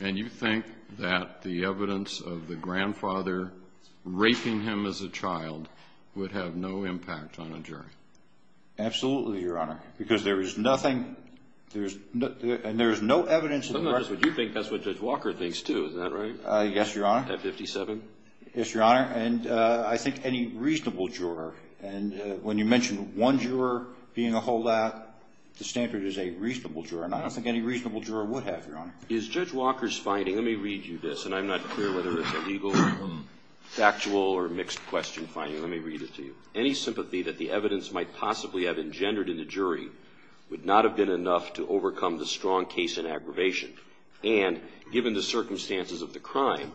And you think that the evidence of the grandfather raping him as a child would have no impact on a jury? Absolutely, Your Honor, because there is nothing, and there is no evidence in the record. So not just what you think, that's what Judge Walker thinks too, is that right? Yes, Your Honor. At 57? Yes, Your Honor. And I think any reasonable juror, and when you mention one juror being a holdout, the standard is a reasonable juror. And I don't think any reasonable juror would have, Your Honor. Is Judge Walker's finding, let me read you this, and I'm not clear whether it's a legal, factual, or mixed question finding. Let me read it to you. Any sympathy that the evidence might possibly have engendered in the jury would not have been enough to overcome the strong case in aggravation. And, given the circumstances of the crime,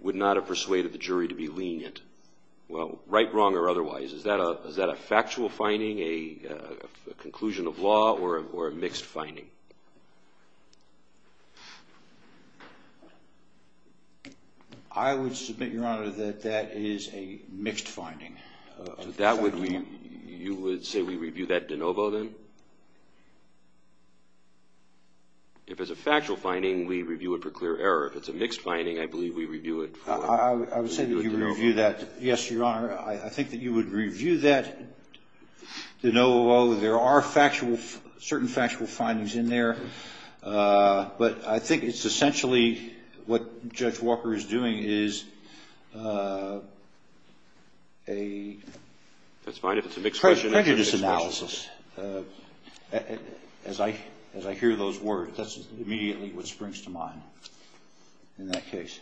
would not have persuaded the jury to be lenient. Well, right, wrong, or otherwise, is that a factual finding, a conclusion of law, or a mixed finding? I would submit, Your Honor, that that is a mixed finding. So that would mean, you would say we review that de novo, then? If it's a factual finding, we review it for clear error. If it's a mixed finding, I believe we review it for clear error. I would say that you review that, yes, Your Honor, I think that you would review that de novo. There are factual, certain factual findings in there. But I think it's essentially what Judge Walker is doing is a prejudice analysis. As I hear those words, that's immediately what springs to mind in that case.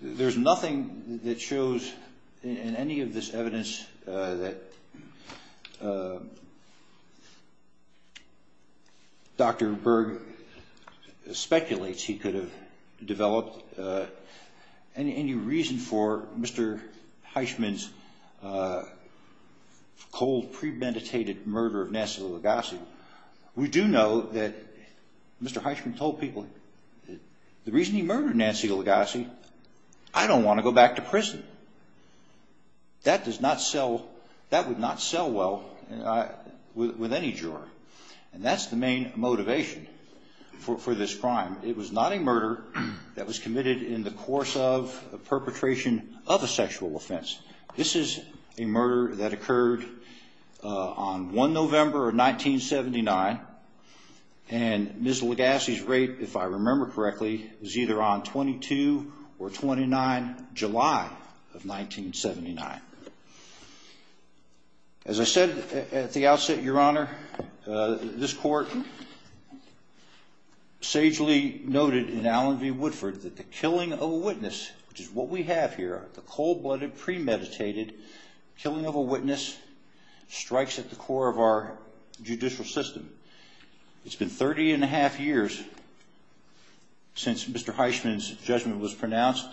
There's nothing that shows in any of this evidence that Dr. Berg speculates he could have developed any reason for Mr. Heisman's cold, premeditated murder of Nancy Lugosi. We do know that Mr. Heisman told people the reason he murdered Nancy Lugosi, I don't want to go back to prison. That does not sell, that would not sell well with any juror. And that's the main motivation for this crime. It was not a murder that was committed in the course of a perpetration of a sexual offense. This is a murder that occurred on 1 November of 1979. And Ms. Lugosi's rape, if I remember correctly, was either on 22 or 29 July of 1979. As I said at the outset, Your Honor, this court sagely noted in Allen v. Woodford that the killing of a witness, which is what we have here, the cold-blooded, premeditated killing of a witness, strikes at the core of our judicial system. It's been 30 and a half years since Mr. Heisman's judgment was pronounced.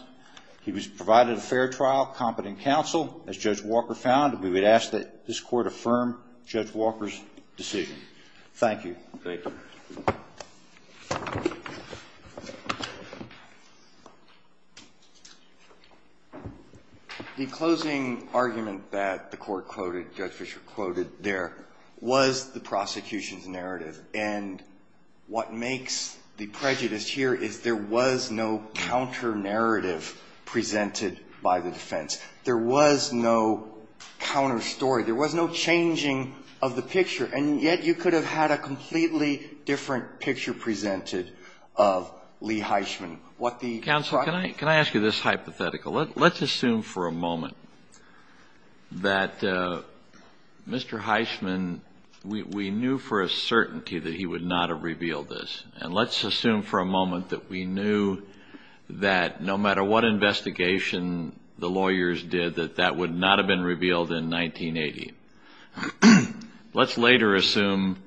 He was provided a fair trial, competent counsel, as Judge Walker found, and we would ask that this court affirm Judge Walker's decision. Thank you. Thank you. The closing argument that the Court quoted, Judge Fischer quoted there, was the prosecution's narrative. And what makes the prejudice here is there was no counter-narrative presented by the defense. There was no counter-story. There was no changing of the picture. And yet you could have had a completely different picture presented of Lee Heisman. Counsel, can I ask you this hypothetical? Let's assume for a moment that Mr. Heisman, we knew for a certainty that he would not have revealed this. And let's assume for a moment that we knew that no matter what investigation the lawyers did, that that would not have been revealed in 1980. Let's later assume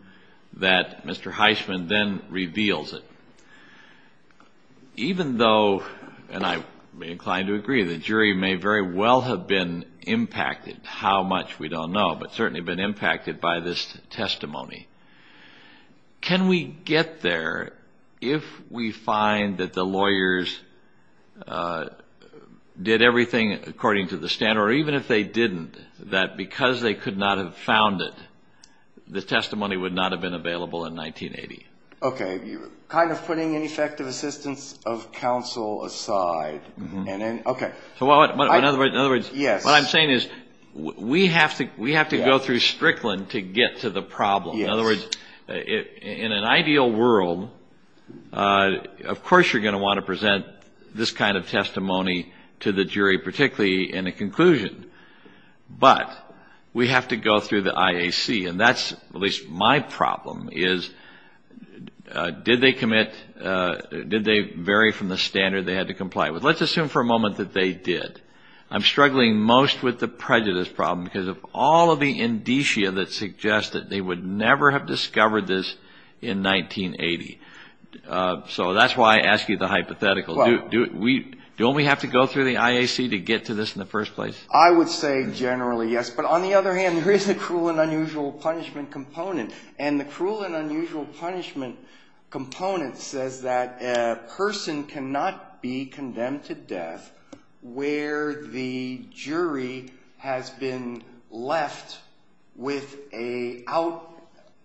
that Mr. Heisman then reveals it. Even though, and I may be inclined to agree, the jury may very well have been impacted, how much we don't know, but certainly been impacted by this testimony. Can we get there if we find that the lawyers did everything according to the standard, or even if they didn't, that because they could not have found it, the testimony would not have been available in 1980? Okay. Kind of putting ineffective assistance of counsel aside. Okay. In other words, what I'm saying is we have to go through Strickland to get to the problem. In other words, in an ideal world, of course you're going to want to present this kind of testimony to the jury, particularly in a conclusion, but we have to go through the IAC. And that's at least my problem, is did they commit, did they vary from the standard they had to comply with? Let's assume for a moment that they did. I'm struggling most with the prejudice problem because of all of the indicia that suggest that they would never have discovered this in 1980. So that's why I ask you the hypothetical. Don't we have to go through the IAC to get to this in the first place? I would say generally, yes. But on the other hand, there is a cruel and unusual punishment component, and the cruel and unusual punishment component says that a person cannot be condemned to death where the jury has been left without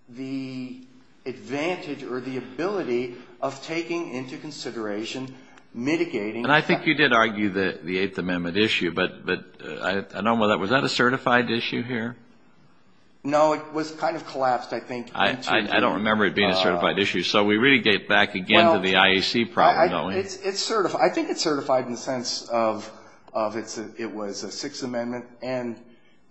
the advantage or the ability of taking into consideration mitigating. And I think you did argue the Eighth Amendment issue, but I don't know whether that was a certified issue here. No, it was kind of collapsed, I think. I don't remember it being a certified issue. So we really get back again to the IAC problem, don't we? It's certified. I think it's certified in the sense of it was a Sixth Amendment and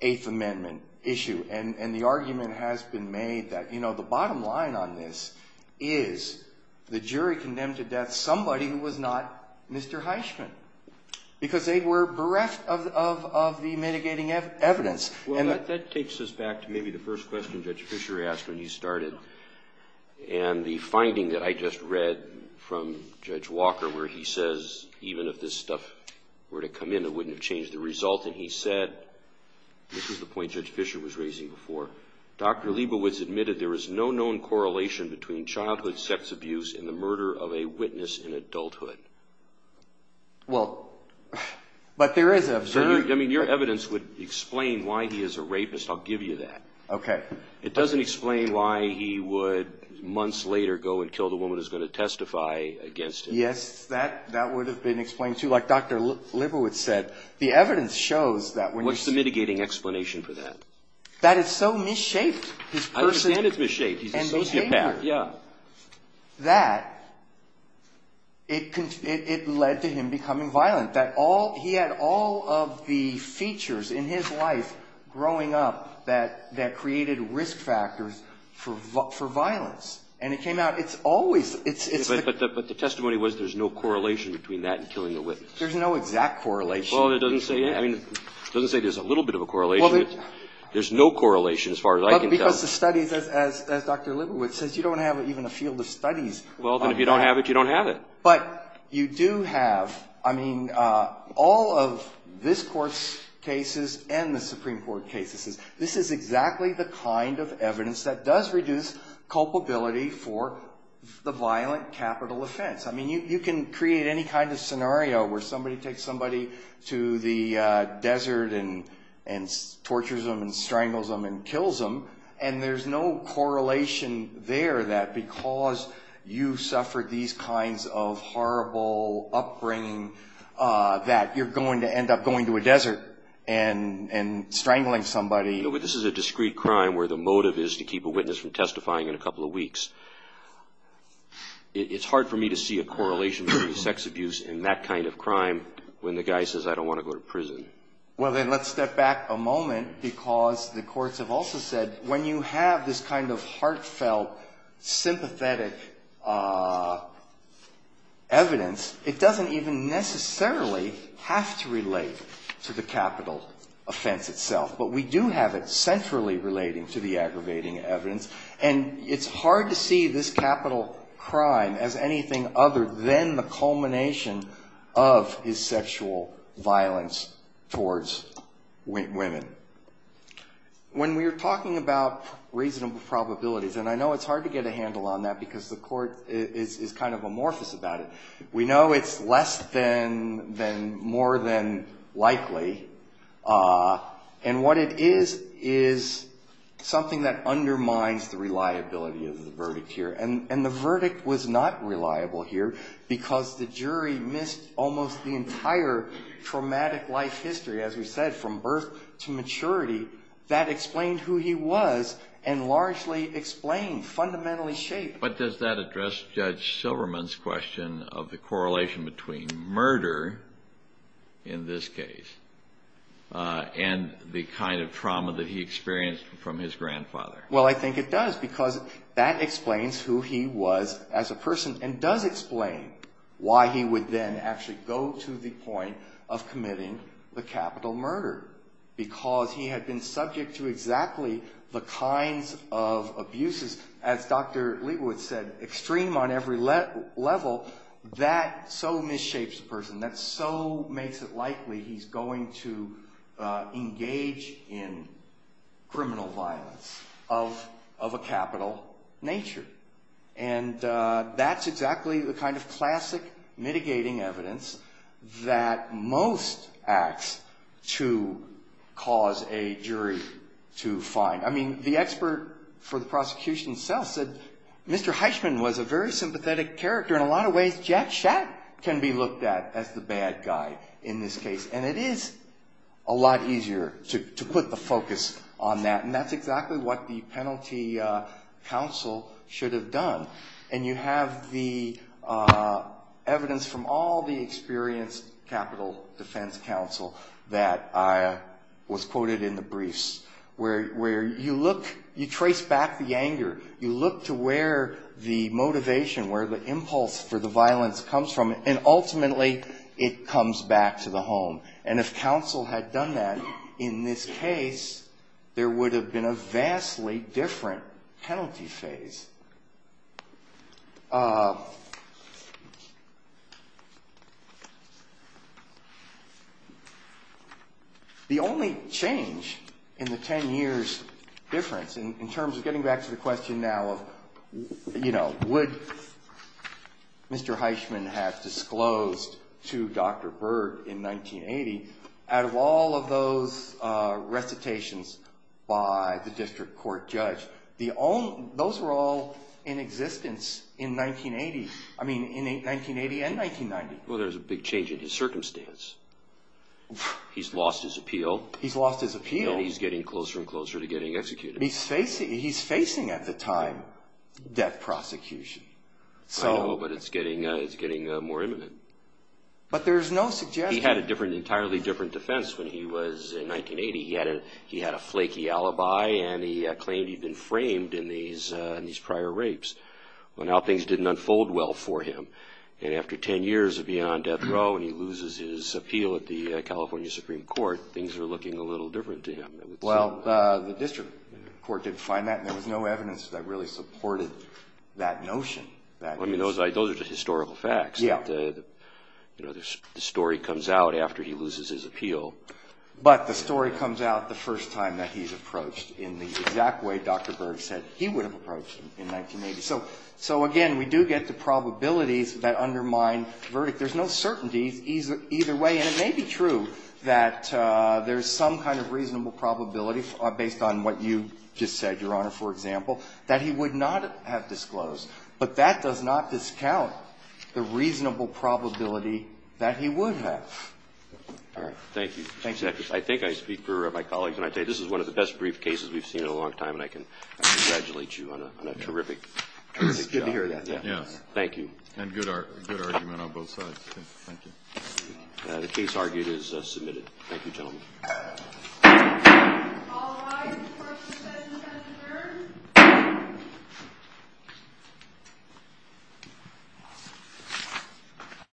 Eighth Amendment issue. And the argument has been made that, you know, the bottom line on this is the jury condemned to death somebody who was not Mr. Heisman because they were bereft of the mitigating evidence. Well, that takes us back to maybe the first question Judge Fisher asked when he started. And the finding that I just read from Judge Walker where he says even if this stuff were to come in, it wouldn't have changed the result. And he said, this is the point Judge Fisher was raising before, Dr. Liebowitz admitted there is no known correlation between childhood sex abuse and the murder of a witness in adulthood. Well, but there is an absurdity. I mean, your evidence would explain why he is a rapist. I'll give you that. Okay. It doesn't explain why he would months later go and kill the woman who's going to testify against him. Yes, that would have been explained too. Like Dr. Liebowitz said, the evidence shows that when you see – What's the mitigating explanation for that? That it so misshaped his person – I understand it's misshaped. He's a sociopath. And behavior. Yeah. That it led to him becoming violent. He had all of the features in his life growing up that created risk factors for violence. And it came out it's always – But the testimony was there's no correlation between that and killing the witness. There's no exact correlation. Well, it doesn't say there's a little bit of a correlation. There's no correlation as far as I can tell. As Dr. Liebowitz says, you don't have even a field of studies. Well, then if you don't have it, you don't have it. But you do have – I mean, all of this Court's cases and the Supreme Court cases, this is exactly the kind of evidence that does reduce culpability for the violent capital offense. I mean, you can create any kind of scenario where somebody takes somebody to the desert and tortures them and strangles them and kills them, and there's no correlation there that because you suffered these kinds of horrible upbringing that you're going to end up going to a desert and strangling somebody. But this is a discrete crime where the motive is to keep a witness from testifying in a couple of weeks. It's hard for me to see a correlation between sex abuse and that kind of crime when the guy says, I don't want to go to prison. Well, then let's step back a moment because the courts have also said when you have this kind of heartfelt, sympathetic evidence, it doesn't even necessarily have to relate to the capital offense itself. But we do have it centrally relating to the aggravating evidence. And it's hard to see this capital crime as anything other than the culmination of his sexual violence towards women. When we're talking about reasonable probabilities, and I know it's hard to get a handle on that because the Court is kind of amorphous about it. We know it's less than, more than likely. And what it is, is something that undermines the reliability of the verdict here. And the verdict was not reliable here because the jury missed almost the entire traumatic life history. As we said, from birth to maturity, that explained who he was and largely explained, fundamentally shaped. But does that address Judge Silverman's question of the correlation between murder in this case and the kind of trauma that he experienced from his grandfather? Well, I think it does because that explains who he was as a person and does explain why he would then actually go to the point of committing the capital murder. Because he had been subject to exactly the kinds of abuses. As Dr. Leawood said, extreme on every level. That so misshapes a person. That so makes it likely he's going to engage in criminal violence of a capital nature. And that's exactly the kind of classic mitigating evidence that most acts to cause a jury to find. I mean, the expert for the prosecution itself said Mr. Heisman was a very sympathetic character. In a lot of ways, Jack Shatt can be looked at as the bad guy in this case. And it is a lot easier to put the focus on that. And that's exactly what the penalty counsel should have done. And you have the evidence from all the experienced capital defense counsel that was quoted in the briefs. Where you look, you trace back the anger. You look to where the motivation, where the impulse for the violence comes from. And ultimately, it comes back to the home. And if counsel had done that in this case, there would have been a vastly different penalty phase. The only change in the ten years difference, in terms of getting back to the question now of, you know, would Mr. Heisman have disclosed to Dr. Byrd in 1980, out of all of those recitations by the district court judge, those were all in existence in 1980. I mean, in 1980 and 1990. Well, there was a big change in his circumstance. He's lost his appeal. He's lost his appeal. And he's getting closer and closer to getting executed. He's facing, at the time, death prosecution. I know, but it's getting more imminent. But there's no suggestion. He had an entirely different defense when he was in 1980. He had a flaky alibi, and he claimed he'd been framed in these prior rapes. Well, now things didn't unfold well for him. And after ten years of being on death row, and he loses his appeal at the California Supreme Court, things are looking a little different to him. Well, the district court did find that, and there was no evidence that really supported that notion. I mean, those are just historical facts. Yeah. You know, the story comes out after he loses his appeal. But the story comes out the first time that he's approached in the exact way Dr. Byrd said he would have approached him in 1980. So, again, we do get the probabilities that undermine verdict. There's no certainty either way. And it may be true that there's some kind of reasonable probability, based on what you just said, Your Honor, for example, that he would not have disclosed. But that does not discount the reasonable probability that he would have. All right. Thank you. Thank you. I think I speak for my colleagues when I say this is one of the best brief cases we've seen in a long time, and I can congratulate you on a terrific job. It's good to hear that. Thank you. And good argument on both sides. Thank you. The case, argued, is submitted. Thank you, gentlemen. All rise. Court is adjourned.